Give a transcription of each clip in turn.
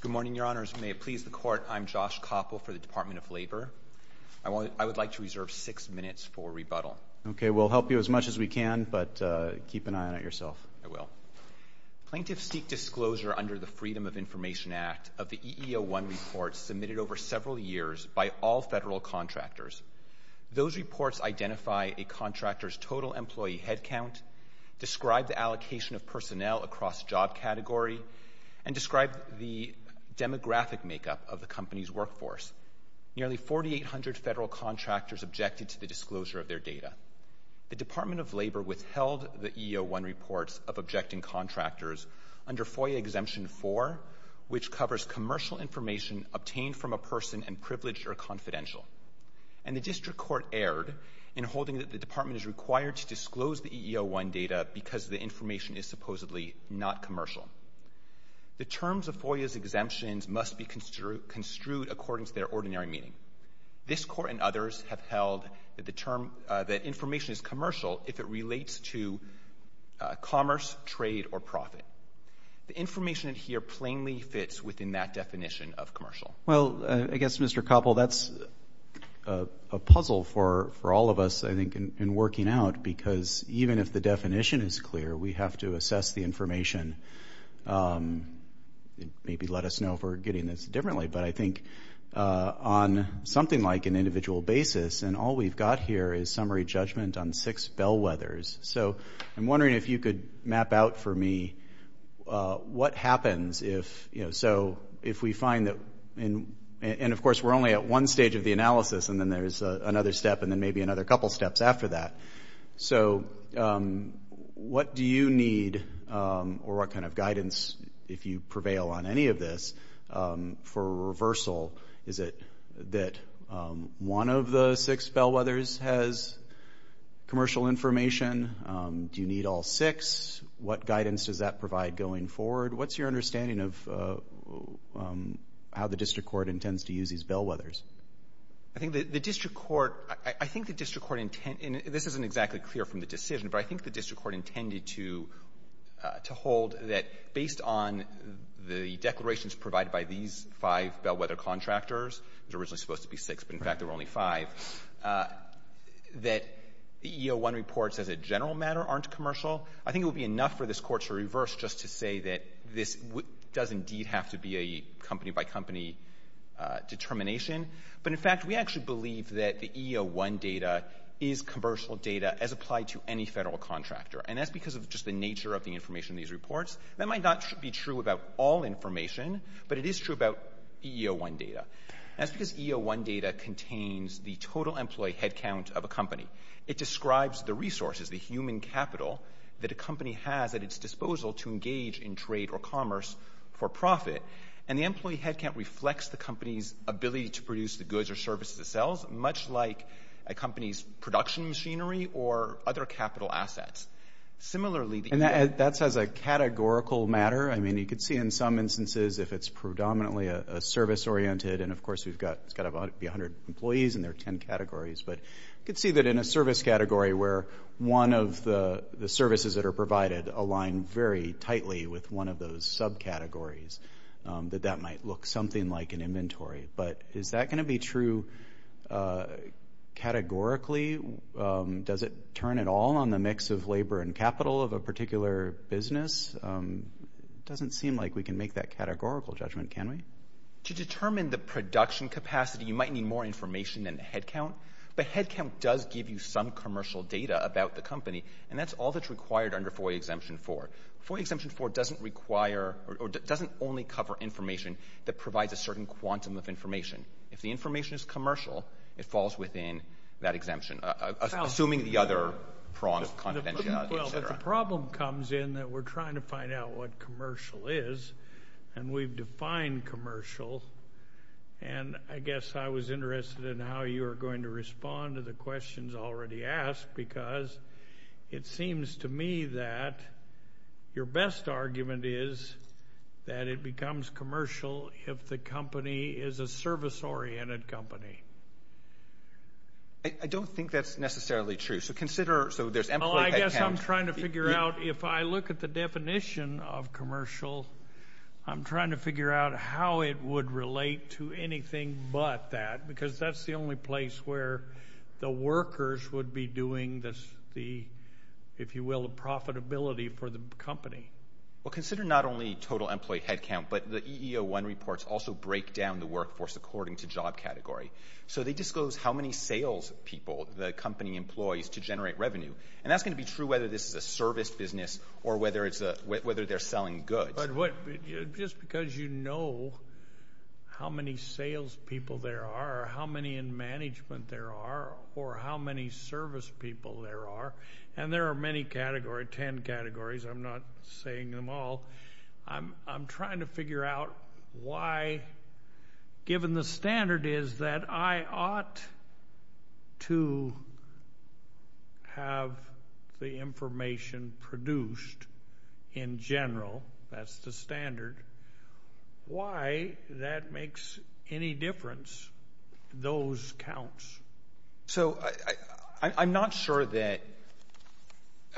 Good morning, Your Honors. May it please the Court, I'm Josh Koppel for the Department of Labor. I would like to reserve six minutes for rebuttal. Okay, we'll help you as much as we can, but keep an eye on it yourself. I will. Plaintiffs seek disclosure under the Freedom of Information Act of the EEO-1 reports submitted over several years by all federal contractors. Those reports identify a contractor's total employee headcount, describe the allocation of personnel across job category, and describe the demographic makeup of the company's workforce. Nearly 4,800 federal contractors objected to the disclosure of their data. The Department of Labor withheld the EEO-1 reports of objecting contractors under FOIA Exemption 4, which covers commercial information obtained from a person and privileged or confidential. And the district court erred in holding that the department is required to disclose the EEO-1 data because the information is supposedly not commercial. The terms of FOIA's exemptions must be construed according to their ordinary meaning. This court and others have held that information is commercial if it relates to commerce, trade, or profit. The information here plainly fits within that definition of commercial. Well, I guess, Mr. Koppel, that's a puzzle for all of us, I think, in working out, because even if the definition is clear, we have to assess the information and maybe let us know if we're getting this differently. But I think on something like an individual basis, and all we've got here is summary judgment on six bellwethers. So I'm wondering if you could map out for me what happens if, you know, so if we find that, and of course we're only at one stage of the analysis and then there's another step and then maybe another couple steps after that. So what do you need or what kind of guidance, if you prevail on any of this, for reversal? Is it that one of the six bellwethers has commercial information? Do you need all six? What guidance does that provide going forward? What's your understanding of how the district court intends to use these bellwethers? I think the district court — I think the district court — and this isn't exactly clear from the decision, but I think the district court intended to hold that based on the declarations provided by these five bellwether contractors, there was originally supposed to be six, but in fact there were only five, that E01 reports as a general matter aren't commercial. I think it would be enough for this court to reverse just to say that this does indeed have to be a company-by-company determination. But in fact we actually believe that the E01 data is commercial data as applied to any federal contractor, and that's because of just the nature of the information in these reports. That might not be true about all information, but it is true about E01 data. That's because E01 data contains the total employee headcount of a company. It describes the resources, the human capital that a company has at its disposal to engage in trade or commerce for profit, and the employee headcount reflects the company's ability to produce the goods or services it sells, much like a company's production machinery or other capital assets. Similarly — And that's as a categorical matter. I mean, you could see in some instances if it's predominantly a service-oriented, and of course we've got — it's got to be 100 employees, and there are 10 categories, but you could see that in a service category where one of the services that are provided align very tightly with one of those subcategories, that that might look something like an inventory. But is that going to be true categorically? Does it turn at all on the mix of labor and capital of a particular business? It doesn't seem like we can make that categorical judgment, can we? To determine the production capacity, you might need more information than the headcount, but headcount does give you some commercial data about the company, and that's all that's required under FOIA Exemption 4. FOIA Exemption 4 doesn't require or doesn't only cover information that provides a certain quantum of information. If the information is commercial, it falls within that exemption, assuming the other prongs of confidentiality, et cetera. Well, but the problem comes in that we're trying to find out what commercial is, and we've defined commercial, and I guess I was interested in how you were going to respond to the questions already asked, because it seems to me that your best argument is that it becomes commercial if the company is a service-oriented company. I don't think that's necessarily true. So consider, so there's employee headcount. I guess I'm trying to figure out, if I look at the definition of commercial, I'm trying to figure out how it would relate to anything but that, because that's the only place where the workers would be doing, if you will, the profitability for the company. Well, consider not only total employee headcount, but the EEO-1 reports also break down the workforce according to job category. So they disclose how many salespeople the company employs to generate revenue, and that's going to be true whether this is a service business or whether they're selling goods. But just because you know how many salespeople there are or how many in management there are or how many servicepeople there are, and there are many categories, 10 categories, I'm not saying them all, I'm trying to figure out why, given the standard is that I ought to have the information produced in general, that's the standard, why that makes any difference, those counts. So I'm not sure that –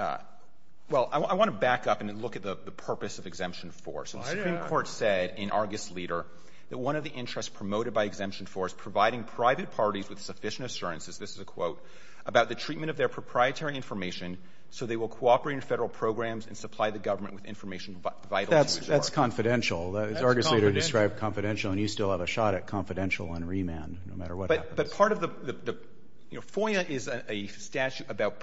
well, I want to back up and look at the purpose of Exemption 4. So the Supreme Court said in Argus Leader that one of the interests promoted by Exemption 4 is providing private parties with sufficient assurances, this is a quote, about the treatment of their proprietary information so they will cooperate in federal programs and supply the government with information vital to the store. That's confidential. That's confidential. Argus Leader described confidential, and you still have a shot at confidential on remand, no matter what happens. But part of the – FOIA is a statute about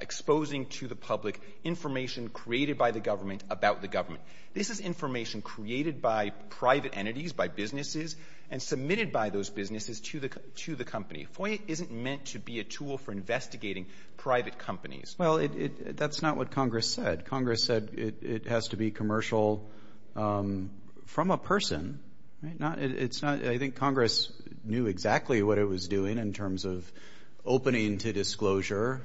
exposing to the public information created by the government about the government. This is information created by private entities, by businesses, and submitted by those businesses to the company. FOIA isn't meant to be a tool for investigating private companies. Well, that's not what Congress said. Congress said it has to be commercial from a person. It's not – I think Congress knew exactly what it was doing in terms of opening to disclosure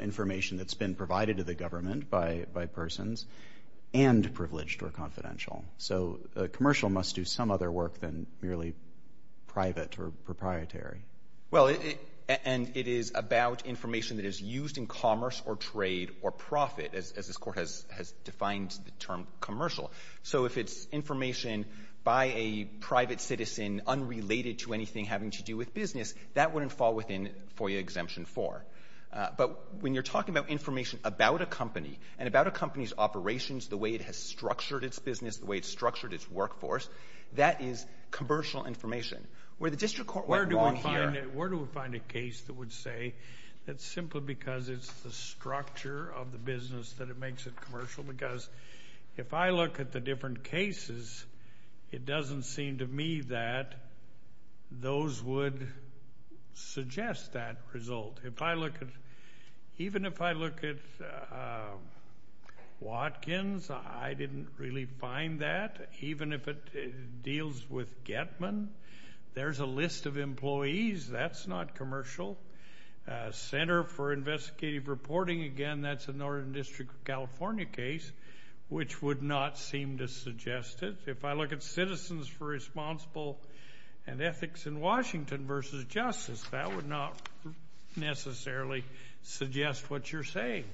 information that's been provided to the government by persons and privileged or confidential. So commercial must do some other work than merely private or proprietary. Well, and it is about information that is used in commerce or trade or profit, as this Court has defined the term commercial. So if it's information by a private citizen unrelated to anything having to do with business, that wouldn't fall within FOIA Exemption 4. But when you're talking about information about a company and about a company's operations, the way it has structured its business, the way it's structured its workforce, that is commercial information. Where the district court went wrong here – Where do we find a case that would say that simply because it's the structure of the business that it makes it commercial? Because if I look at the different cases, it doesn't seem to me that those would suggest that result. If I look at – even if I look at Watkins, I didn't really find that. Even if it deals with Getman, there's a list of employees. That's not commercial. Center for Investigative Reporting, again, that's a Northern District of California case, which would not seem to suggest it. If I look at Citizens for Responsible and Ethics in Washington v. Justice, that would not necessarily suggest what you're saying.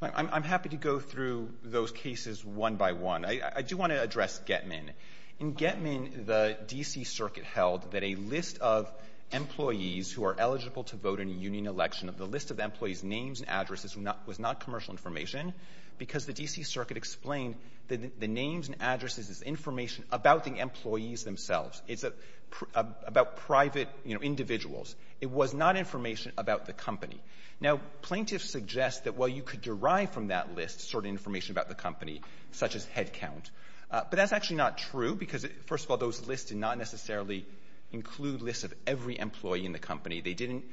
I'm happy to go through those cases one by one. I do want to address Getman. In Getman, the D.C. Circuit held that a list of employees who are eligible to vote in a union election, the list of employees' names and addresses was not commercial information because the D.C. Circuit explained that the names and addresses is information about the employees themselves. It's about private individuals. It was not information about the company. Now, plaintiffs suggest that while you could derive from that list certain information about the company, such as headcount, but that's actually not true because, first of all, those lists did not necessarily include lists of every employee in the company. They didn't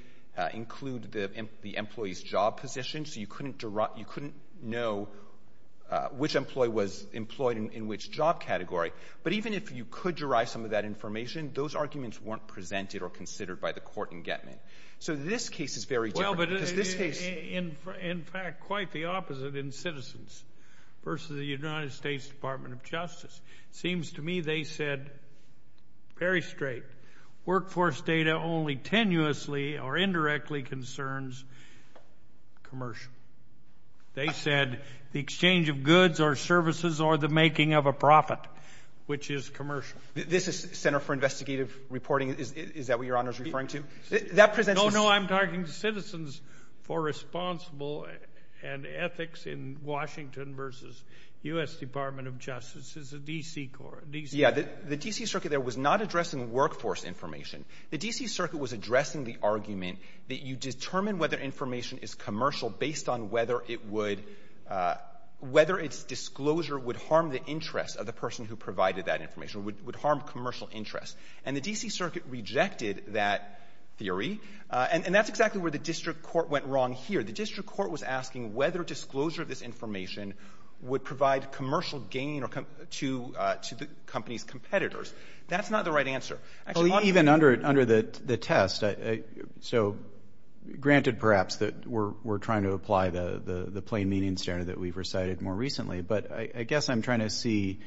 include the employee's job position, so you couldn't know which employee was employed in which job category. But even if you could derive some of that information, those arguments weren't presented or considered by the court in Getman. So this case is very different because this case— in fact, quite the opposite in Citizens versus the United States Department of Justice. It seems to me they said very straight, workforce data only tenuously or indirectly concerns commercial. They said the exchange of goods or services or the making of a profit, which is commercial. This is Center for Investigative Reporting. Is that what Your Honor is referring to? No, no, I'm talking Citizens for Responsible and Ethics in Washington versus U.S. Department of Justice. It's the D.C. court. Yeah, the D.C. Circuit there was not addressing workforce information. The D.C. Circuit was addressing the argument that you determine whether information is commercial based on whether its disclosure would harm the interest of the person who provided that information, would harm commercial interest. And the D.C. Circuit rejected that theory. And that's exactly where the district court went wrong here. The district court was asking whether disclosure of this information would provide commercial gain to the company's competitors. That's not the right answer. Even under the test, so granted perhaps that we're trying to apply the plain meaning standard that we've recited more recently, but I guess I'm trying to see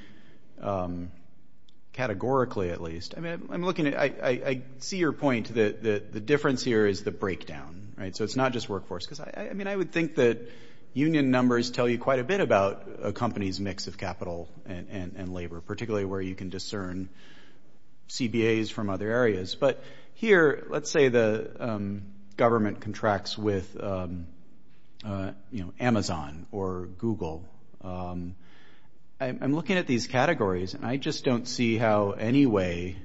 categorically at least. I see your point that the difference here is the breakdown. So it's not just workforce. I would think that union numbers tell you quite a bit about a company's mix of capital and labor, particularly where you can discern CBAs from other areas. But here, let's say the government contracts with Amazon or Google. I'm looking at these categories, and I just don't see how any way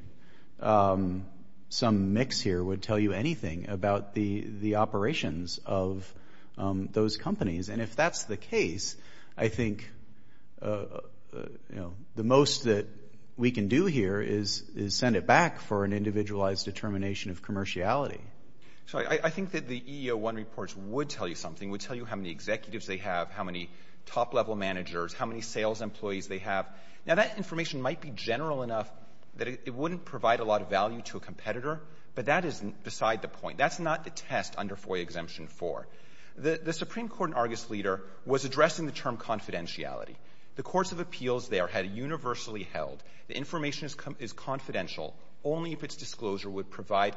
some mix here would tell you anything about the operations of those companies. And if that's the case, I think the most that we can do here is send it back for an individualized determination of commerciality. So I think that the EEO-1 reports would tell you something, would tell you how many executives they have, how many top-level managers, how many sales employees they have. Now, that information might be general enough that it wouldn't provide a lot of value to a competitor, but that isn't beside the point. That's not the test under FOIA Exemption 4. The Supreme Court in Argus, Leader, was addressing the term confidentiality. The courts of appeals there had universally held the information is confidential only if its disclosure would provide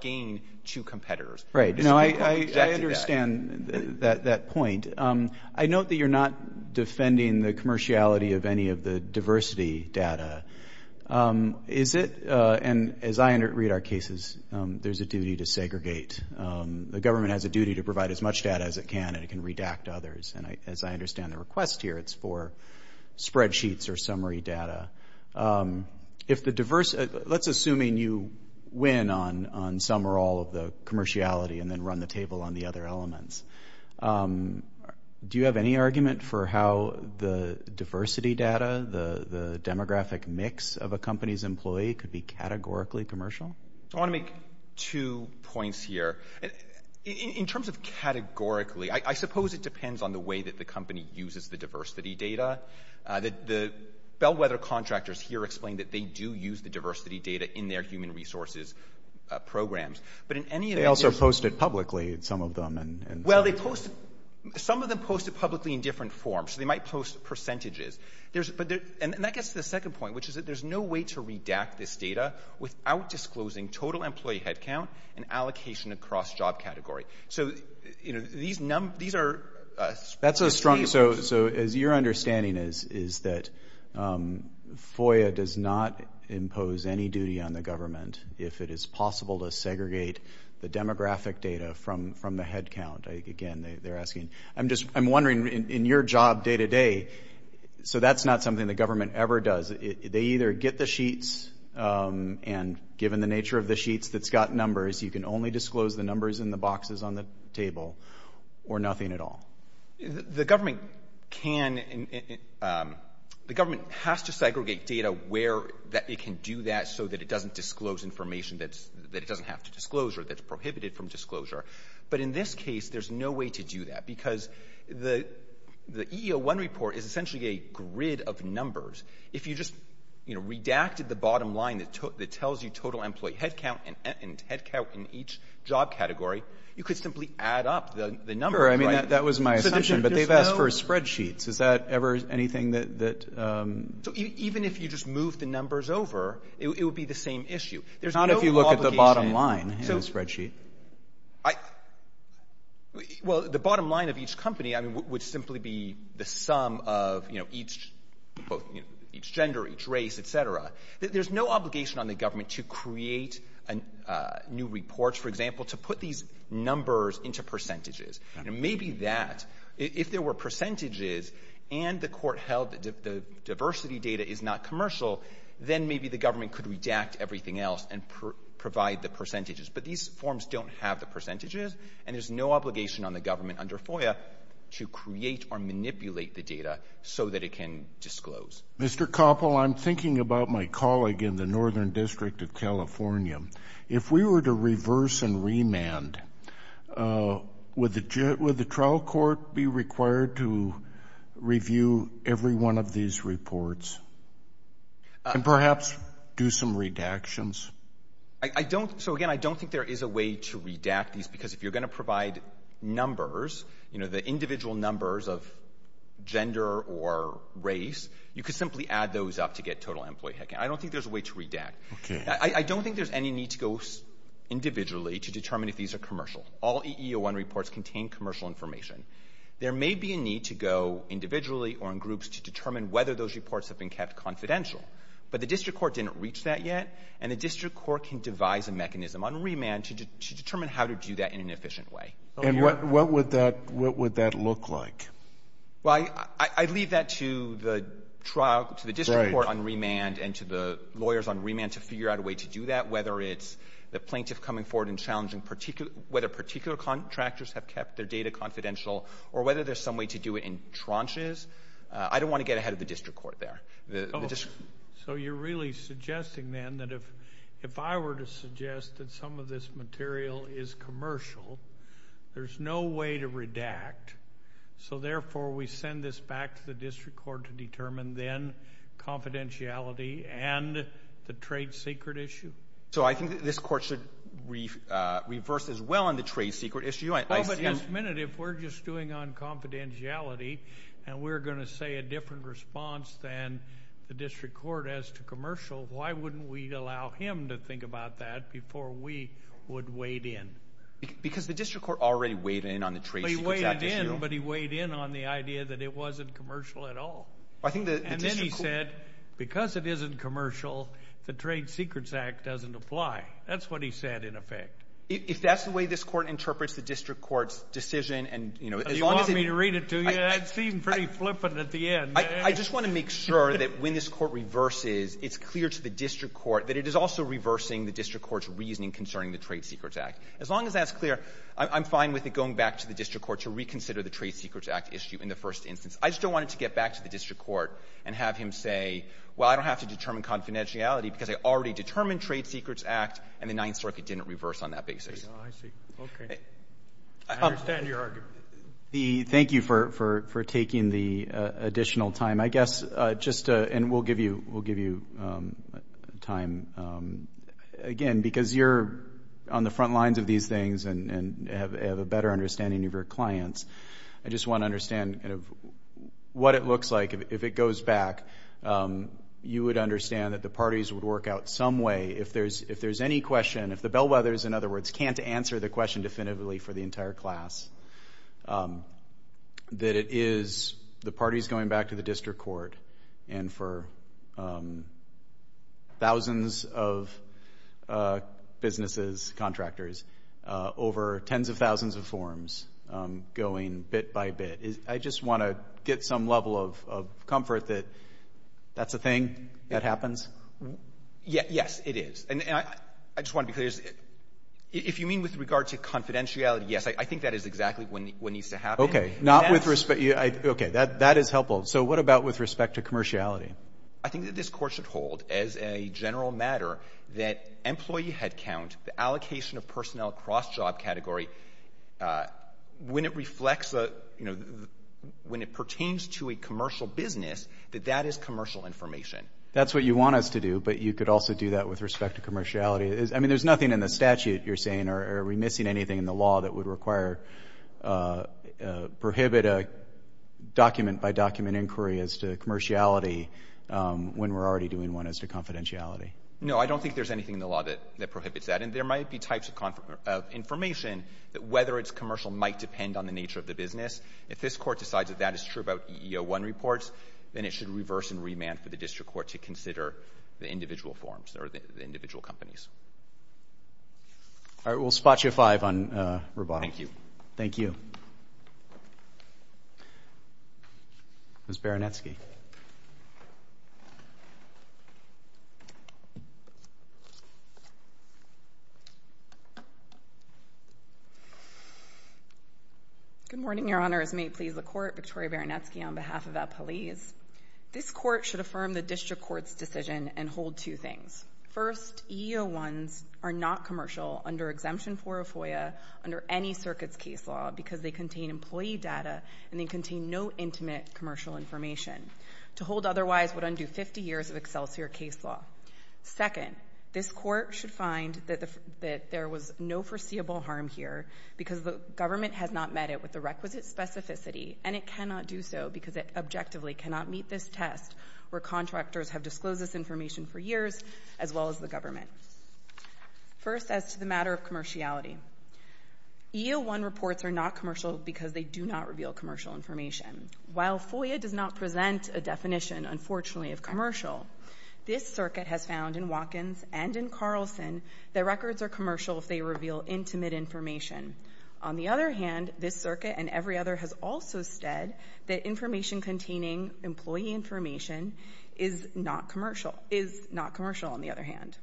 gain to competitors. Right. You know, I understand that point. I note that you're not defending the commerciality of any of the diversity data. Is it, and as I read our cases, there's a duty to segregate. The government has a duty to provide as much data as it can, and it can redact others. And as I understand the request here, it's for spreadsheets or summary data. If the diversity, let's assume you win on some or all of the commerciality and then run the table on the other elements. Do you have any argument for how the diversity data, the demographic mix of a company's employee could be categorically commercial? I want to make two points here. In terms of categorically, I suppose it depends on the way that the company uses the diversity data. The bellwether contractors here explain that they do use the diversity data in their human resources programs. They also post it publicly, some of them. Well, some of them post it publicly in different forms. They might post percentages. And that gets to the second point, which is that there's no way to redact this data without disclosing total employee headcount and allocation across job category. So, you know, these are a team. So your understanding is that FOIA does not impose any duty on the government if it is possible to segregate the demographic data from the headcount. Again, they're asking. I'm wondering, in your job day to day, so that's not something the government ever does. They either get the sheets, and given the nature of the sheets that's got numbers, you can only disclose the numbers in the boxes on the table or nothing at all. The government has to segregate data where it can do that so that it doesn't disclose information that it doesn't have to disclose or that's prohibited from disclosure. But in this case, there's no way to do that because the EEO-1 report is essentially a grid of numbers. If you just redacted the bottom line that tells you total employee headcount and headcount in each job category, you could simply add up the numbers. That was my assumption, but they've asked for spreadsheets. Is that ever anything that... Even if you just move the numbers over, it would be the same issue. Not if you look at the bottom line in the spreadsheet. Well, the bottom line of each company would simply be the sum of each gender, each race, etc. There's no obligation on the government to create new reports, for example, to put these numbers into percentages. Maybe that, if there were percentages and the court held the diversity data is not commercial, then maybe the government could redact everything else and provide the percentages. But these forms don't have the percentages, and there's no obligation on the government under FOIA to create or manipulate the data so that it can disclose. Mr. Koppel, I'm thinking about my colleague in the Northern District of California. If we were to reverse and remand, would the trial court be required to review every one of these reports and perhaps do some redactions? So, again, I don't think there is a way to redact these because if you're going to provide numbers, you know, the individual numbers of gender or race, you could simply add those up to get total employee headcount. I don't think there's a way to redact. I don't think there's any need to go individually to determine if these are commercial. All EEO-1 reports contain commercial information. There may be a need to go individually or in groups to determine whether those reports have been kept confidential, but the district court didn't reach that yet, and the district court can devise a mechanism on remand to determine how to do that in an efficient way. And what would that look like? Well, I'd leave that to the district court on remand and to the lawyers on remand to figure out a way to do that, whether it's the plaintiff coming forward and challenging whether particular contractors have kept their data confidential or whether there's some way to do it in tranches. I don't want to get ahead of the district court there. So you're really suggesting then that if I were to suggest that some of this material is commercial, there's no way to redact, so therefore we send this back to the district court to determine then confidentiality and the trade secret issue? So I think this court should reverse as well on the trade secret issue. But at this minute, if we're just doing on confidentiality and we're going to say a different response than the district court as to commercial, why wouldn't we allow him to think about that before we would wade in? Because the district court already waded in on the trade secret issue. He waded in, but he waded in on the idea that it wasn't commercial at all. And then he said because it isn't commercial, the Trade Secrets Act doesn't apply. That's what he said in effect. If that's the way this court interprets the district court's decision and, you know, as long as it — You want me to read it to you? That seemed pretty flippant at the end. I just want to make sure that when this court reverses, it's clear to the district court that it is also reversing the district court's reasoning concerning the Trade Secrets Act. As long as that's clear, I'm fine with it going back to the district court to reconsider the Trade Secrets Act issue in the first instance. I just don't want it to get back to the district court and have him say, well, I don't have to determine confidentiality because I already determined Trade Secrets Act, and the Ninth Circuit didn't reverse on that basis. Oh, I see. Okay. I understand your argument. Thank you for taking the additional time. I guess just — and we'll give you time again because you're on the front lines of these things and have a better understanding of your clients. I just want to understand kind of what it looks like if it goes back. You would understand that the parties would work out some way, if there's any question, if the Bellwethers, in other words, can't answer the question definitively for the entire class, that it is the parties going back to the district court and for thousands of businesses, contractors, over tens of thousands of forms going bit by bit. I just want to get some level of comfort that that's a thing that happens. Yes, it is. And I just want to be clear. If you mean with regard to confidentiality, yes, I think that is exactly what needs to happen. Okay. Not with respect — okay. That is helpful. So what about with respect to commerciality? I think that this Court should hold as a general matter that employee headcount, the allocation of personnel across job category, when it reflects a — you know, when it pertains to a commercial business, that that is commercial information. That's what you want us to do, but you could also do that with respect to commerciality. I mean, there's nothing in the statute, you're saying, or are we missing anything in the law that would require — prohibit a document-by-document inquiry as to commerciality when we're already doing one as to confidentiality? No, I don't think there's anything in the law that prohibits that. And there might be types of information that whether it's commercial might depend on the nature of the business. If this Court decides that that is true about EEO-1 reports, then it should reverse and remand for the district court to consider the individual forms or the individual companies. All right. We'll spot you at 5 on Roboto. Thank you. Thank you. Ms. Baranetsky. Good morning, Your Honors. May it please the Court, Victoria Baranetsky on behalf of Appalese. This Court should affirm the district court's decision and hold two things. First, EEO-1s are not commercial under Exemption 4 of FOIA under any circuit's case law because they contain employee data and they contain no intimate commercial information. To hold otherwise would undo 50 years of Excelsior case law. Second, this Court should find that there was no foreseeable harm here because the government has not met it with the requisite specificity and it cannot do so because it objectively cannot meet this test where contractors have disclosed this information for years as well as the government. First, as to the matter of commerciality, EEO-1 reports are not commercial because they do not reveal commercial information. While FOIA does not present a definition, unfortunately, of commercial, this circuit has found in Watkins and in Carlson that records are commercial if they reveal intimate information. On the other hand, this circuit and every other has also said that information containing employee information is not commercial, is not commercial, on the other hand.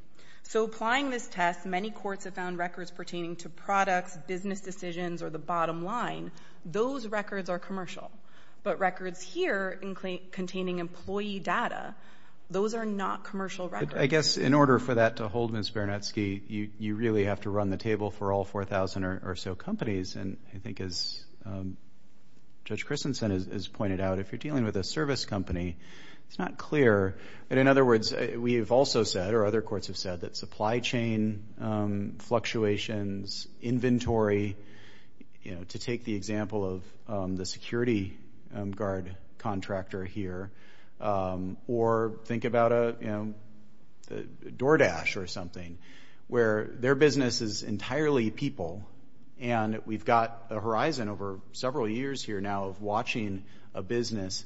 So applying this test, many courts have found records pertaining to products, business decisions, or the bottom line, those records are commercial. But records here containing employee data, those are not commercial records. But I guess in order for that to hold, Ms. Baranetsky, you really have to run the table for all 4,000 or so companies. And I think as Judge Christensen has pointed out, if you're dealing with a service company, it's not clear. But in other words, we have also said or other courts have said that supply chain fluctuations, inventory, you know, to take the example of the security guard contractor here or think about, you know, DoorDash or something, where their business is entirely people and we've got a horizon over several years here now of watching a business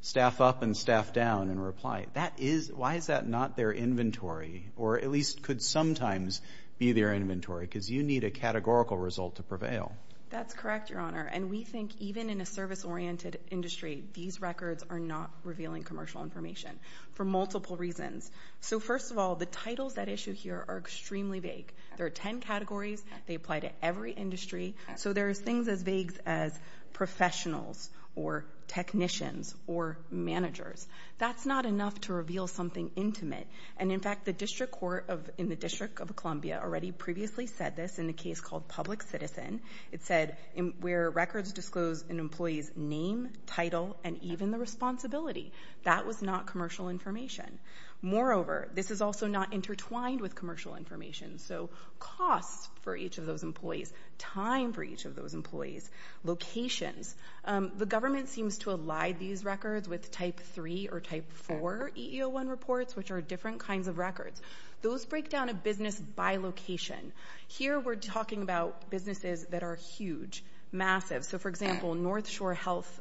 staff up and staff down and reply. That is, why is that not their inventory or at least could sometimes be their inventory because you need a categorical result to prevail. That's correct, Your Honor. And we think even in a service-oriented industry, these records are not revealing commercial information for multiple reasons. So, first of all, the titles that issue here are extremely vague. There are 10 categories. They apply to every industry. So, there are things as vague as professionals or technicians or managers. That's not enough to reveal something intimate. And in fact, the district court of in the District of Columbia already previously said this in a case called Public Citizen. It said where records disclose an employee's name, title, and even the responsibility. That was not commercial information. Moreover, this is also not intertwined with commercial information. So, costs for each of those employees, time for each of those employees, locations. The government seems to ally these records with Type 3 or Type 4 EEO-1 reports, which are different kinds of records. Those break down a business by location. Here, we're talking about businesses that are huge, massive. So, for example, North Shore Health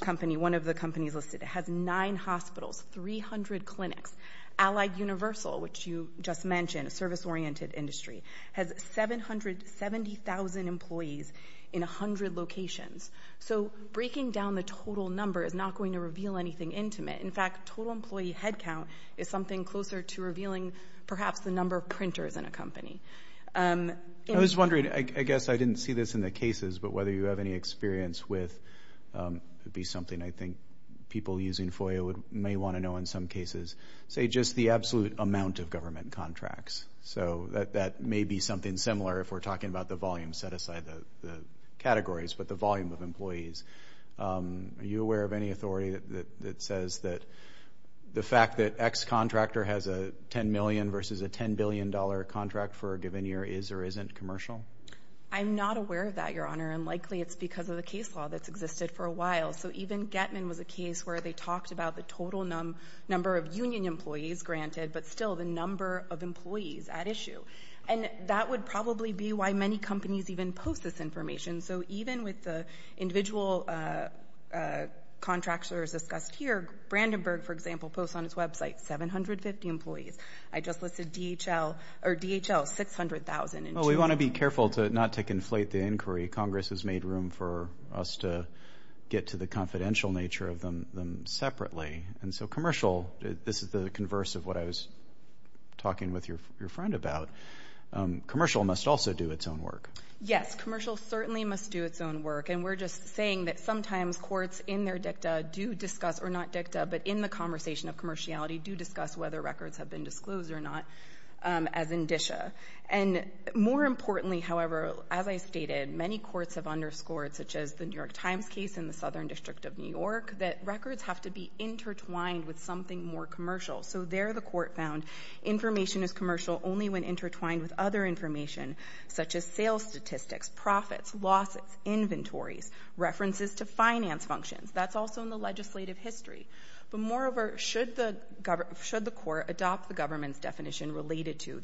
Company, one of the companies listed, has nine hospitals, 300 clinics. Allied Universal, which you just mentioned, a service-oriented industry, has 770,000 employees in 100 locations. So, breaking down the total number is not going to reveal anything intimate. In fact, total employee headcount is something closer to revealing perhaps the number of printers in a company. I was wondering, I guess I didn't see this in the cases, but whether you have any experience with, it would be something I think people using FOIA may want to know in some cases, say just the absolute amount of government contracts. So, that may be something similar if we're talking about the volume set aside, the categories, but the volume of employees. Are you aware of any authority that says that the fact that X contractor has a $10 million versus a $10 billion contract for a given year is or isn't commercial? I'm not aware of that, Your Honor, and likely it's because of the case law that's existed for a while. So, even Getman was a case where they talked about the total number of union employees granted, but still the number of employees at issue. And that would probably be why many companies even post this information. So, even with the individual contractors discussed here, Brandenburg, for example, posts on its website 750 employees. I just listed DHL, or DHL, 600,000. Well, we want to be careful not to conflate the inquiry. Congress has made room for us to get to the confidential nature of them separately. And so, commercial, this is the converse of what I was talking with your friend about. Commercial must also do its own work. Yes, commercial certainly must do its own work. And we're just saying that sometimes courts in their dicta do discuss, or not dicta, but in the conversation of commerciality do discuss whether records have been disclosed or not as indicia. And more importantly, however, as I stated, many courts have underscored, such as the New York Times case in the Southern District of New York, that records have to be intertwined with something more commercial. So, there the court found information is commercial only when intertwined with other information, such as sales statistics, profits, lawsuits, inventories, references to finance functions. That's also in the legislative history. But moreover, should the court adopt the government's definition related to,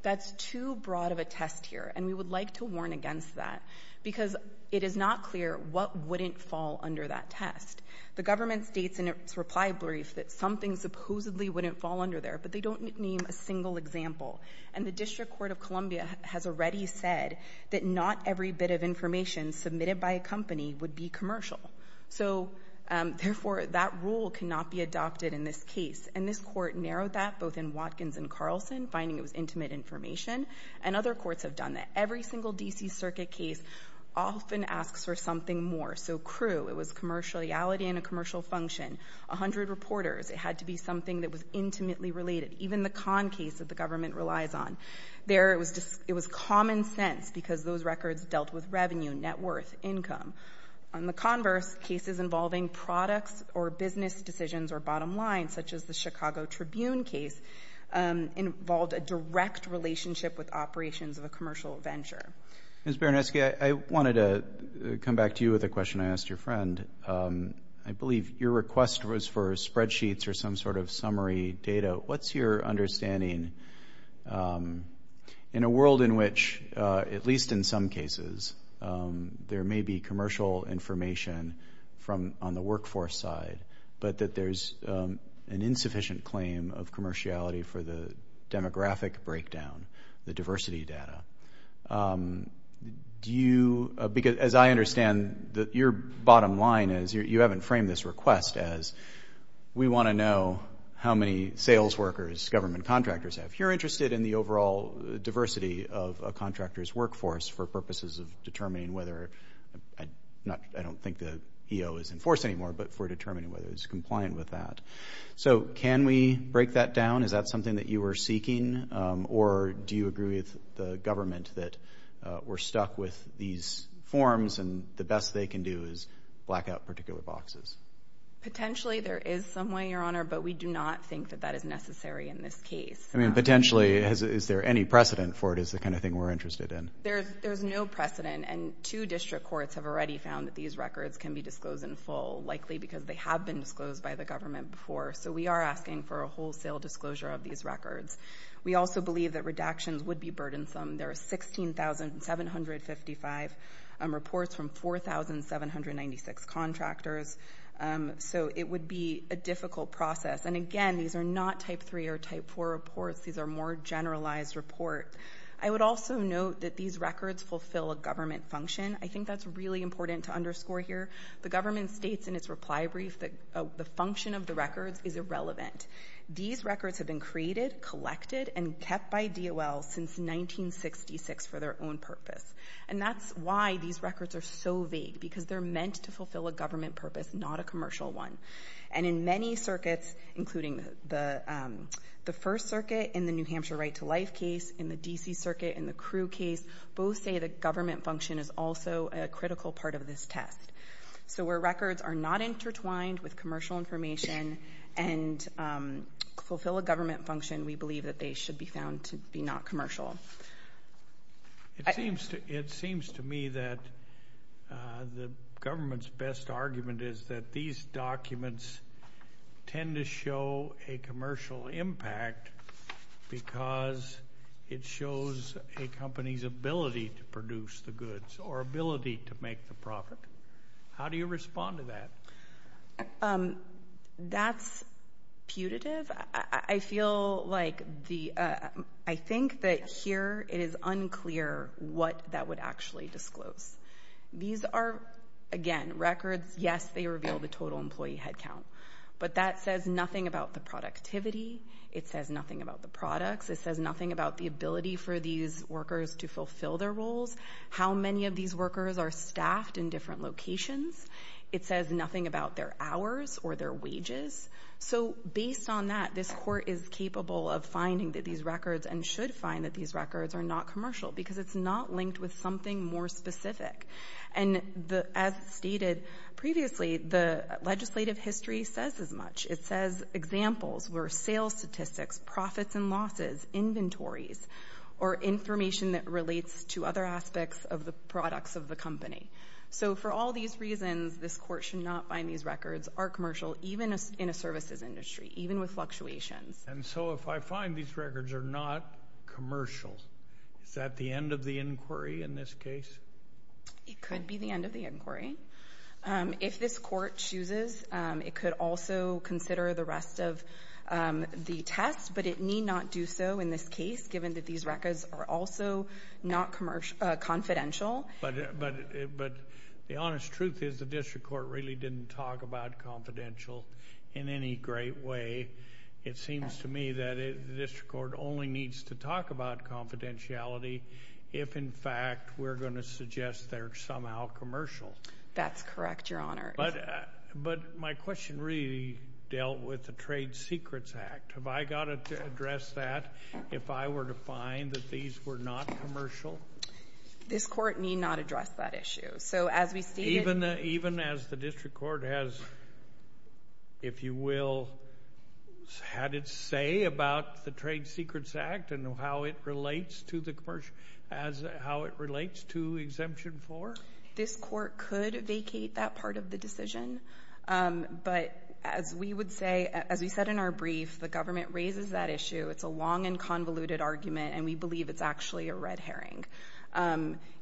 that's too broad of a test here, and we would like to warn against that, because it is not clear what wouldn't fall under that test. The government states in its reply brief that something supposedly wouldn't fall under there, but they don't name a single example. And the District Court of Columbia has already said that not every bit of information submitted by a company would be commercial. So, therefore, that rule cannot be adopted in this case. And this court narrowed that, both in Watkins and Carlson, finding it was intimate information, and other courts have done that. Every single D.C. Circuit case often asks for something more. So, crew, it was commercial reality and a commercial function. A hundred reporters, it had to be something that was intimately related, even the con case that the government relies on. There, it was common sense, because those records dealt with revenue, net worth, income. On the converse, cases involving products or business decisions or bottom lines, such as the Chicago Tribune case, involved a direct relationship with operations of a commercial venture. Ms. Baranski, I wanted to come back to you with a question I asked your friend. I believe your request was for spreadsheets or some sort of summary data. What's your understanding, in a world in which, at least in some cases, there may be commercial information on the workforce side, but that there's an insufficient claim of commerciality for the demographic breakdown, the diversity data? Because, as I understand, your bottom line is, you haven't framed this request as, we want to know how many sales workers government contractors have. If you're interested in the overall diversity of a contractor's workforce, for purposes of determining whether, I don't think the EO is enforced anymore, but for determining whether it's compliant with that. So, can we break that down? Is that something that you were seeking? Or, do you agree with the government that we're stuck with these forms, and the best they can do is black out particular boxes? Potentially, there is some way, Your Honor, but we do not think that that is necessary in this case. I mean, potentially, is there any precedent for it, is the kind of thing we're interested in? There's no precedent, and two district courts have already found that these records can be disclosed in full, likely because they have been disclosed by the government before. So, we are asking for a wholesale disclosure of these records. We also believe that redactions would be burdensome. There are 16,755 reports from 4,796 contractors. So, it would be a difficult process. And again, these are not type 3 or type 4 reports. These are more generalized reports. I would also note that these records fulfill a government function. I think that's really important to underscore here. The government states in its reply brief that the function of the records is irrelevant. These records have been created, collected, and kept by DOL since 1966 for their own purpose. And that's why these records are so vague, because they're meant to fulfill a government purpose, not a commercial one. And in many circuits, including the First Circuit in the New Hampshire Right to Life case, in the D.C. Circuit, in the Crew case, both say the government function is also a critical part of this test. So, where records are not intertwined with commercial information and fulfill a government function, we believe that they should be found to be not commercial. It seems to me that the government's best argument is that these documents tend to show a commercial impact because it shows a company's ability to produce the goods or ability to make the profit. How do you respond to that? That's putative. I feel like the – I think that here it is unclear what that would actually disclose. These are, again, records. Yes, they reveal the total employee headcount. But that says nothing about the productivity. It says nothing about the products. It says nothing about the ability for these workers to fulfill their roles, how many of these workers are staffed in different locations. It says nothing about their hours or their wages. So, based on that, this Court is capable of finding these records and should find that these records are not commercial, because it's not linked with something more specific. And as stated previously, the legislative history says as much. It says examples were sales statistics, profits and losses, inventories, or information that relates to other aspects of the products of the company. So, for all these reasons, this Court should not find these records are commercial, even in a services industry, even with fluctuations. And so if I find these records are not commercial, is that the end of the inquiry in this case? It could be the end of the inquiry. If this Court chooses, it could also consider the rest of the tests, but it need not do so in this case, given that these records are also not confidential. But the honest truth is the district court really didn't talk about confidential in any great way. It seems to me that the district court only needs to talk about confidentiality if, in fact, we're going to suggest they're somehow commercial. That's correct, Your Honor. But my question really dealt with the Trade Secrets Act. Have I got to address that if I were to find that these were not commercial? This Court need not address that issue. Even as the district court has, if you will, had its say about the Trade Secrets Act and how it relates to exemption 4? This Court could vacate that part of the decision. But as we would say, as we said in our brief, the government raises that issue. It's a long and convoluted argument, and we believe it's actually a red herring.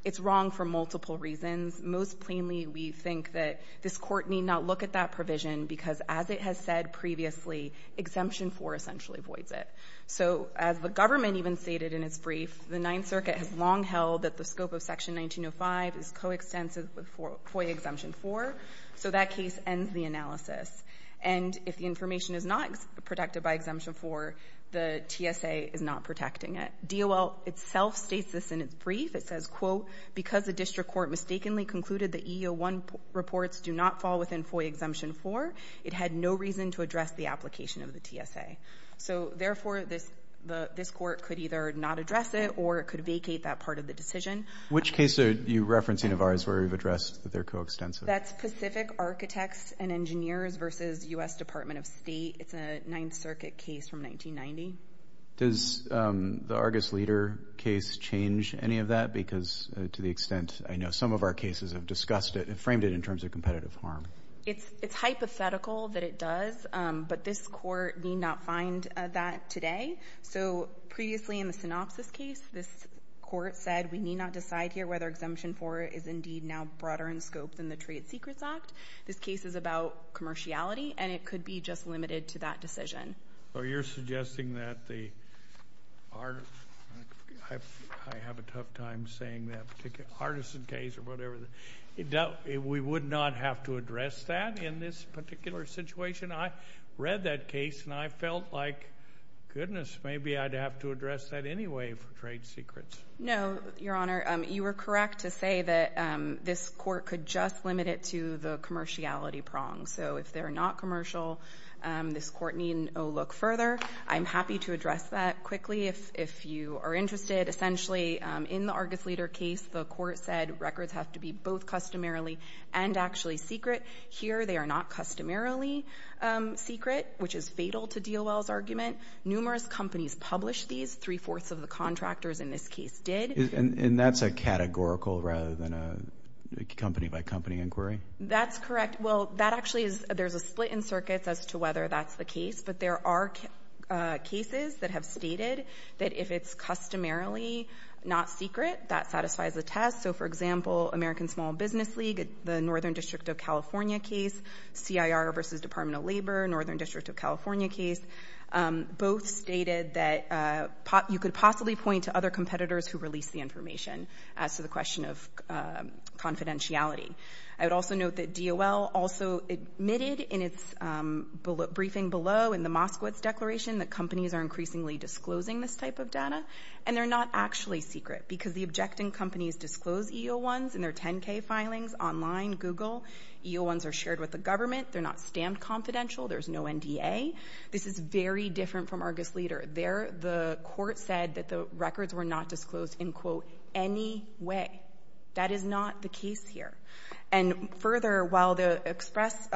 It's wrong for multiple reasons. Most plainly, we think that this Court need not look at that provision because, as it has said previously, Exemption 4 essentially voids it. So as the government even stated in its brief, the Ninth Circuit has long held that the scope of Section 1905 is coextensive with FOIA Exemption 4. So that case ends the analysis. And if the information is not protected by Exemption 4, the TSA is not protecting it. DOL itself states this in its brief. It says, quote, because the district court mistakenly concluded that EEO-1 reports do not fall within FOIA Exemption 4, it had no reason to address the application of the TSA. So, therefore, this Court could either not address it or it could vacate that part of the decision. Which case are you referencing of ours where we've addressed that they're coextensive? That's Pacific Architects and Engineers versus U.S. Department of State. It's a Ninth Circuit case from 1990. Does the Argus Leader case change any of that? Because to the extent I know some of our cases have discussed it, framed it in terms of competitive harm. It's hypothetical that it does, but this Court need not find that today. So previously in the Synopsis case, this Court said we need not decide here whether Exemption 4 is indeed now broader in scope than the Trade Secrets Act. This case is about commerciality, and it could be just limited to that decision. So you're suggesting that the Artisan case or whatever, we would not have to address that in this particular situation? I read that case, and I felt like, goodness, maybe I'd have to address that anyway for Trade Secrets. No, Your Honor. You were correct to say that this Court could just limit it to the commerciality prong. So if they're not commercial, this Court needn't look further. I'm happy to address that quickly if you are interested. Essentially, in the Argus Leader case, the Court said records have to be both customarily and actually secret. Here they are not customarily secret, which is fatal to D.O.L.'s argument. Numerous companies published these. Three-fourths of the contractors in this case did. And that's a categorical rather than a company-by-company inquiry? That's correct. Well, that actually is – there's a split in circuits as to whether that's the case, but there are cases that have stated that if it's customarily not secret, that satisfies the test. So, for example, American Small Business League, the Northern District of California case, C.I.R. versus Department of Labor, Northern District of California case, both stated that you could possibly point to other competitors who released the information as to the question of confidentiality. I would also note that D.O.L. also admitted in its briefing below in the Moskowitz Declaration that companies are increasingly disclosing this type of data, and they're not actually secret because the objecting companies disclose EO-1s in their 10-K filings online, Google. EO-1s are shared with the government. They're not stamped confidential. There's no NDA. This is very different from Argus Leader. There, the Court said that the records were not disclosed in, quote, any way. That is not the case here. And further, while the express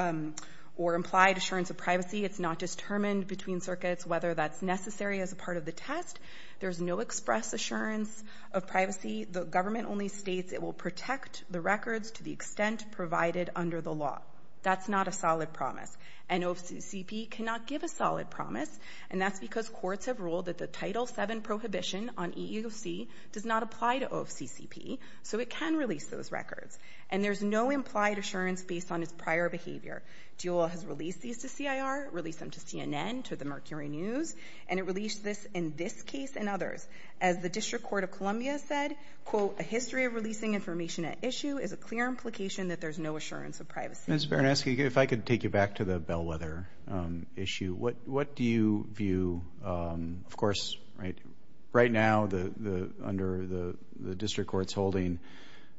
or implied assurance of privacy, it's not determined between circuits whether that's necessary as a part of the test, there's no express assurance of privacy. The government only states it will protect the records to the extent provided under the law. That's not a solid promise, and OFCCP cannot give a solid promise, and that's because courts have ruled that the Title VII prohibition on EEOC does not apply to OFCCP, so it can release those records. And there's no implied assurance based on its prior behavior. DEOL has released these to CIR, released them to CNN, to the Mercury News, and it released this in this case and others. As the District Court of Columbia said, quote, a history of releasing information at issue is a clear implication that there's no assurance of privacy. Ms. Baranski, if I could take you back to the bellwether issue. What do you view, of course, right now under the district court's holding,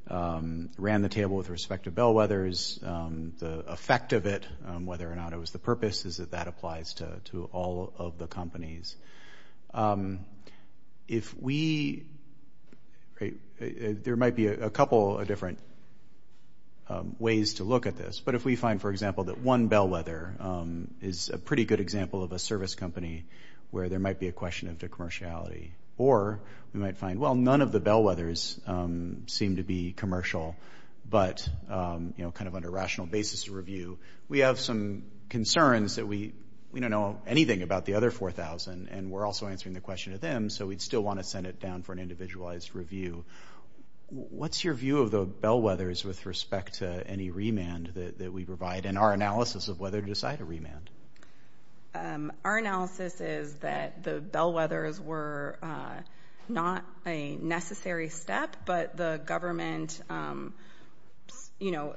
ran the table with respect to bellwethers, the effect of it, whether or not it was the purpose, is that that applies to all of the companies. If we, there might be a couple of different ways to look at this, but if we find, for example, that one bellwether is a pretty good example of a service company where there might be a question of their commerciality, or we might find, well, none of the bellwethers seem to be commercial, but, you know, kind of on a rational basis to review. We have some concerns that we don't know anything about the other 4,000, and we're also answering the question to them, so we'd still want to send it down for an individualized review. What's your view of the bellwethers with respect to any remand that we provide and our analysis of whether to decide a remand? Our analysis is that the bellwethers were not a necessary step, but the government, you know,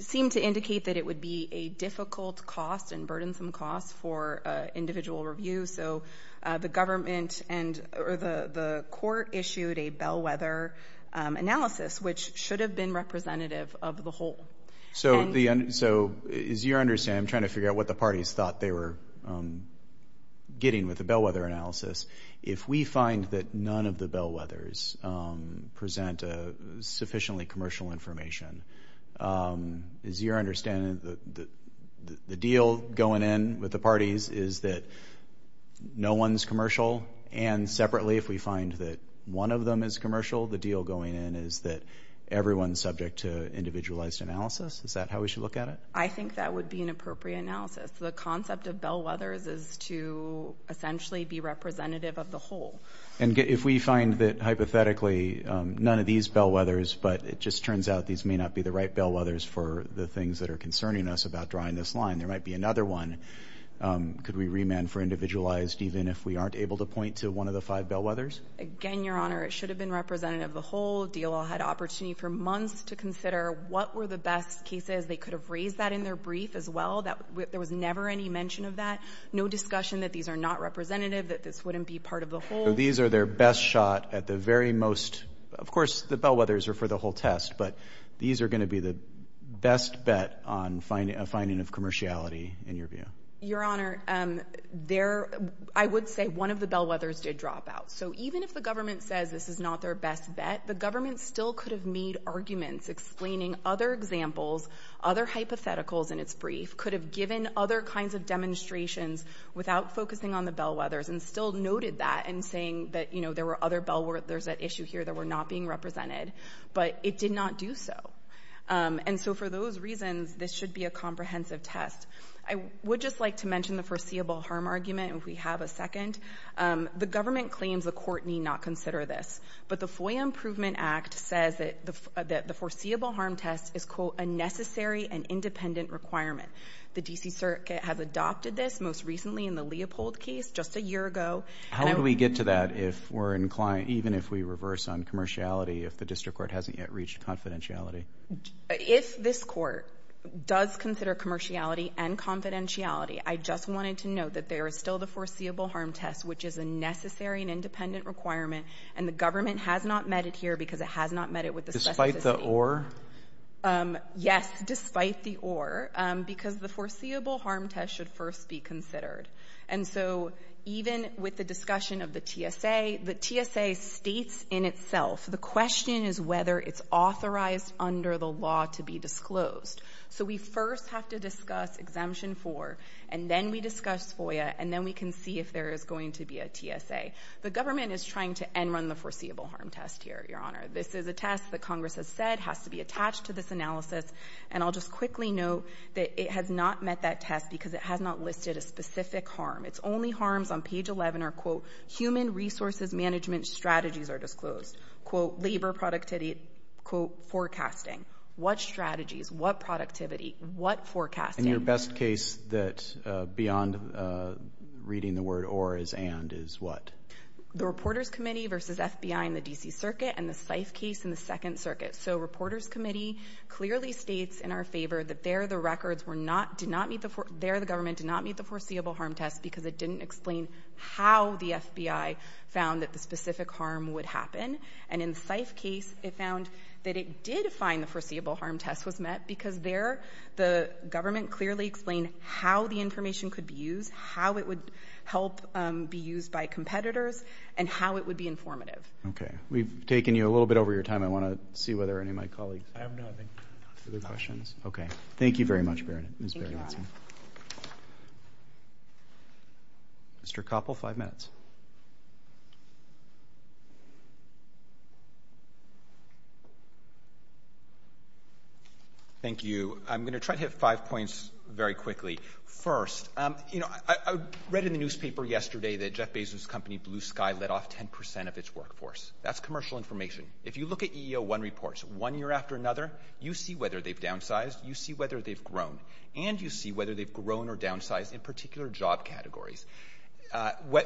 seemed to indicate that it would be a difficult cost and burdensome cost for individual review, so the government or the court issued a bellwether analysis, which should have been representative of the whole. So, as you understand, I'm trying to figure out what the parties thought they were getting with the bellwether analysis. If we find that none of the bellwethers present sufficiently commercial information, is your understanding that the deal going in with the parties is that no one's commercial? And separately, if we find that one of them is commercial, the deal going in is that everyone's subject to individualized analysis? Is that how we should look at it? I think that would be an appropriate analysis. The concept of bellwethers is to essentially be representative of the whole. And if we find that, hypothetically, none of these bellwethers, but it just turns out these may not be the right bellwethers for the things that are concerning us about drawing this line. There might be another one. Could we remand for individualized even if we aren't able to point to one of the five bellwethers? Again, Your Honor, it should have been representative of the whole. DLO had opportunity for months to consider what were the best cases. They could have raised that in their brief as well. There was never any mention of that. No discussion that these are not representative, that this wouldn't be part of the whole. So these are their best shot at the very most. Of course, the bellwethers are for the whole test, but these are going to be the best bet on finding a finding of commerciality in your view. Your Honor, I would say one of the bellwethers did drop out. So even if the government says this is not their best bet, the government still could have made arguments explaining other examples, other hypotheticals in its brief, could have given other kinds of demonstrations without focusing on the bellwethers and still noted that in saying that, you know, there were other bellwethers at issue here that were not being represented, but it did not do so. And so for those reasons, this should be a comprehensive test. I would just like to mention the foreseeable harm argument, if we have a second. The government claims the court need not consider this, but the FOIA Improvement Act says that the foreseeable harm test is, quote, a necessary and independent requirement. The D.C. Circuit has adopted this most recently in the Leopold case just a year ago. How do we get to that if we're inclined, even if we reverse on commerciality, if the district court hasn't yet reached confidentiality? If this court does consider commerciality and confidentiality, I just wanted to note that there is still the foreseeable harm test, which is a necessary and independent requirement, and the government has not met it here because it has not met it with the specificity. Despite the or? Yes, despite the or, because the foreseeable harm test should first be considered. And so even with the discussion of the TSA, the TSA states in itself, the question is whether it's authorized under the law to be disclosed. So we first have to discuss Exemption 4, and then we discuss FOIA, and then we can see if there is going to be a TSA. The government is trying to end run the foreseeable harm test here, Your Honor. This is a test that Congress has said has to be attached to this analysis, and I'll just quickly note that it has not met that test because it has not listed a specific harm. Its only harms on page 11 are, quote, human resources management strategies are disclosed, quote, labor productivity, quote, forecasting. What strategies? What productivity? What forecasting? And your best case that beyond reading the word or is and is what? The Reporters Committee versus FBI in the D.C. Circuit and the Seif case in the Second Circuit. So Reporters Committee clearly states in our favor that there the government did not meet the foreseeable harm test because it didn't explain how the FBI found that the specific harm would happen. And in the Seif case, it found that it did find the foreseeable harm test was met because there the government clearly explained how the information could be used, how it would help be used by competitors, and how it would be informative. Okay. We've taken you a little bit over your time. I want to see whether any of my colleagues have any other questions. Okay. Thank you very much, Ms. Berenson. Mr. Koppel, five minutes. Thank you. I'm going to try to hit five points very quickly. First, you know, I read in the newspaper yesterday that Jeff Bezos' company, Blue Sky, let off 10 percent of its workforce. That's commercial information. If you look at EEO-1 reports one year after another, you see whether they've downsized, you see whether they've grown, and you see whether they've grown or downsized in particular job categories.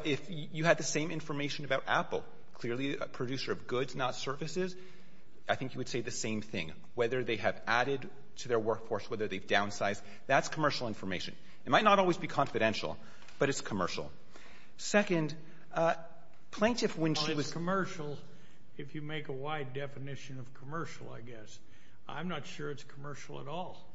If you had the same information about Apple, clearly a producer of goods, not services, I think you would say the same thing. Whether they have added to their workforce, whether they've downsized, that's commercial information. It might not always be confidential, but it's commercial. Second, plaintiff when she was — Well, it's commercial if you make a wide definition of commercial, I guess. I'm not sure it's commercial at all.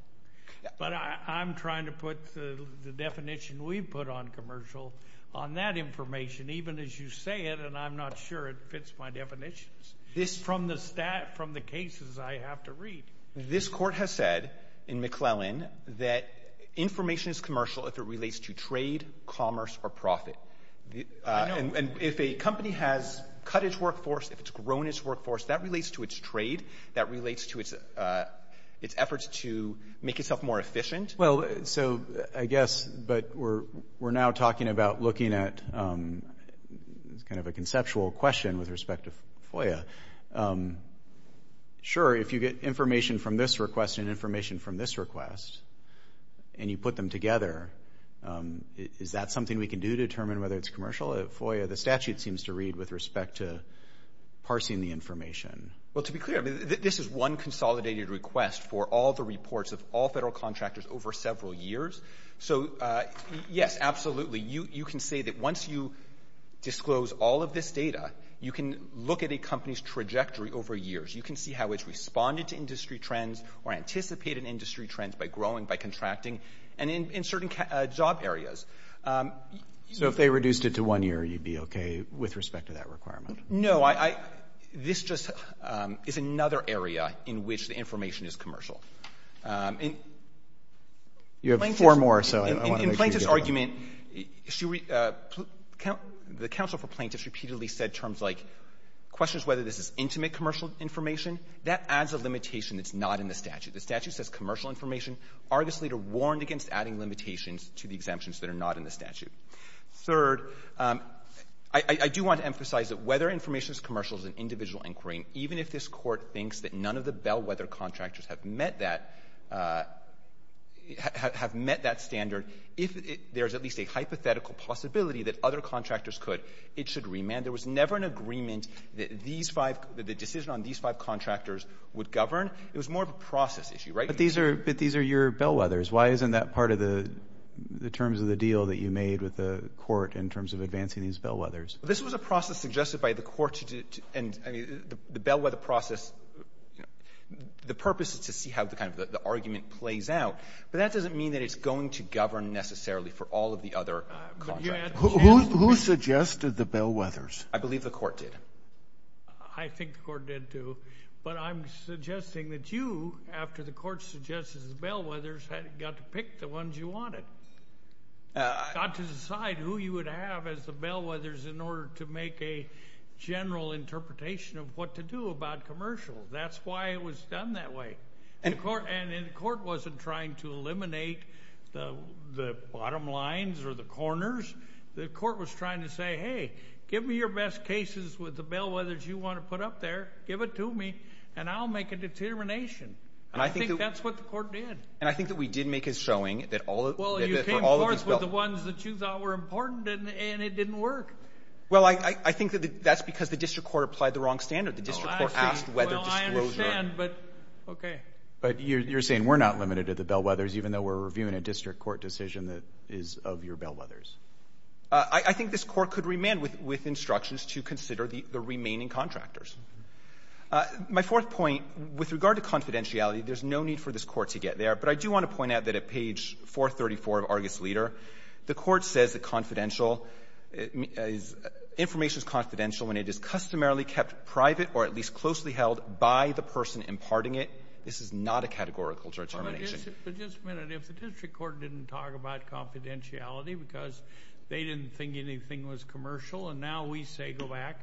But I'm trying to put the definition we've put on commercial on that information, even as you say it, and I'm not sure it fits my definitions from the cases I have to read. This court has said in McClellan that information is commercial if it relates to trade, commerce, or profit. And if a company has cut its workforce, if it's grown its workforce, that relates to its trade. That relates to its efforts to make itself more efficient. Well, so I guess, but we're now talking about looking at kind of a conceptual question with respect to FOIA. Sure, if you get information from this request and information from this request and you put them together, is that something we can do to determine whether it's commercial? At FOIA, the statute seems to read with respect to parsing the information. Well, to be clear, this is one consolidated request for all the reports of all federal contractors over several years. So, yes, absolutely. You can say that once you disclose all of this data, you can look at a company's trajectory over years. You can see how it's responded to industry trends or anticipated industry trends by growing, by contracting, and in certain job areas. So if they reduced it to one year, you'd be okay with respect to that requirement? No, this just is another area in which the information is commercial. You have four more, so I want to make sure you get them all. Second, the counsel for plaintiffs repeatedly said terms like questions whether this is intimate commercial information, that adds a limitation that's not in the statute. The statute says commercial information. Argus Leader warned against adding limitations to the exemptions that are not in the statute. Third, I do want to emphasize that whether information is commercial is an individual inquiry, even if this Court thinks that none of the bellwether contractors have met that — have met that standard, if there's at least a hypothetical possibility that other contractors could, it should remand. There was never an agreement that these five — that the decision on these five contractors would govern. It was more of a process issue, right? But these are your bellwethers. Why isn't that part of the terms of the deal that you made with the Court in terms of advancing these bellwethers? This was a process suggested by the Court to — and, I mean, the bellwether process, you know, the purpose is to see how the kind of the argument plays out, but that doesn't mean that it's going to govern necessarily for all of the other contractors. Who suggested the bellwethers? I believe the Court did. I think the Court did, too. But I'm suggesting that you, after the Court suggested the bellwethers, got to pick the ones you wanted, got to decide who you would have as the bellwethers in order to make a general interpretation of what to do about commercial. That's why it was done that way. And the Court wasn't trying to eliminate the bottom lines or the corners. The Court was trying to say, hey, give me your best cases with the bellwethers you want to put up there, give it to me, and I'll make a determination. I think that's what the Court did. And I think that we did make a showing that all of — Well, you came forth with the ones that you thought were important, and it didn't work. Well, I think that that's because the district court applied the wrong standard. The district court asked whether disclosure — Well, I understand, but okay. But you're saying we're not limited to the bellwethers, even though we're reviewing a district court decision that is of your bellwethers? I think this Court could remand with instructions to consider the remaining contractors. My fourth point, with regard to confidentiality, there's no need for this Court to get there, but I do want to point out that at page 434 of Argus Leader, the Court says that confidential — information is confidential when it is customarily kept private or at least closely held by the person imparting it. This is not a categorical determination. But just a minute. If the district court didn't talk about confidentiality because they didn't think anything was commercial, and now we say go back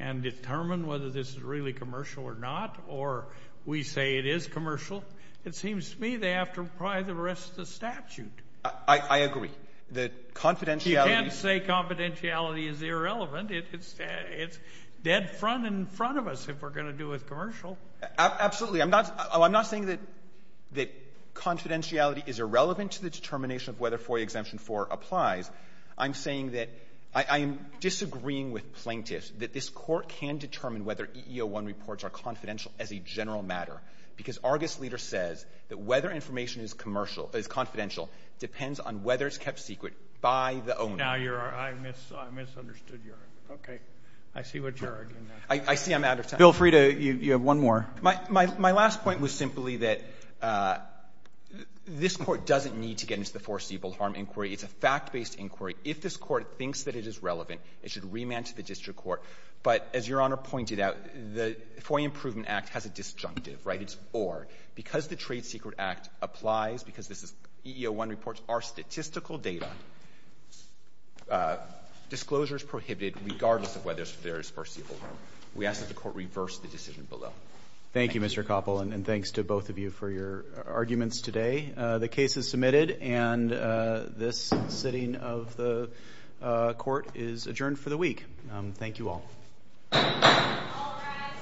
and determine whether this is really commercial or not, or we say it is commercial, it seems to me they have to apply the rest of the statute. I agree. The confidentiality — You can't say confidentiality is irrelevant. It's dead front in front of us if we're going to do it commercial. Absolutely. I'm not saying that confidentiality is irrelevant to the determination of whether FOIA Exemption 4 applies. I'm saying that I am disagreeing with plaintiffs that this Court can determine whether EEO-1 reports are confidential as a general matter, because Argus Leader says that whether information is commercial — is confidential depends on whether it's kept secret by the owner. Now you're — I misunderstood your argument. Okay. I see what you're arguing. I see I'm out of time. Bill Frieda, you have one more. My last point was simply that this Court doesn't need to get into the foreseeable harm inquiry. It's a fact-based inquiry. If this Court thinks that it is relevant, it should remand to the district court. But as Your Honor pointed out, the FOIA Improvement Act has a disjunctive, right? Disjunctive evidence, or because the Trade Secret Act applies, because this is — EEO-1 reports are statistical data, disclosure is prohibited regardless of whether there is foreseeable harm. We ask that the Court reverse the decision below. Thank you, Mr. Koppel, and thanks to both of you for your arguments today. The case is submitted, and this sitting of the Court is adjourned for the week. Thank you all. All rise.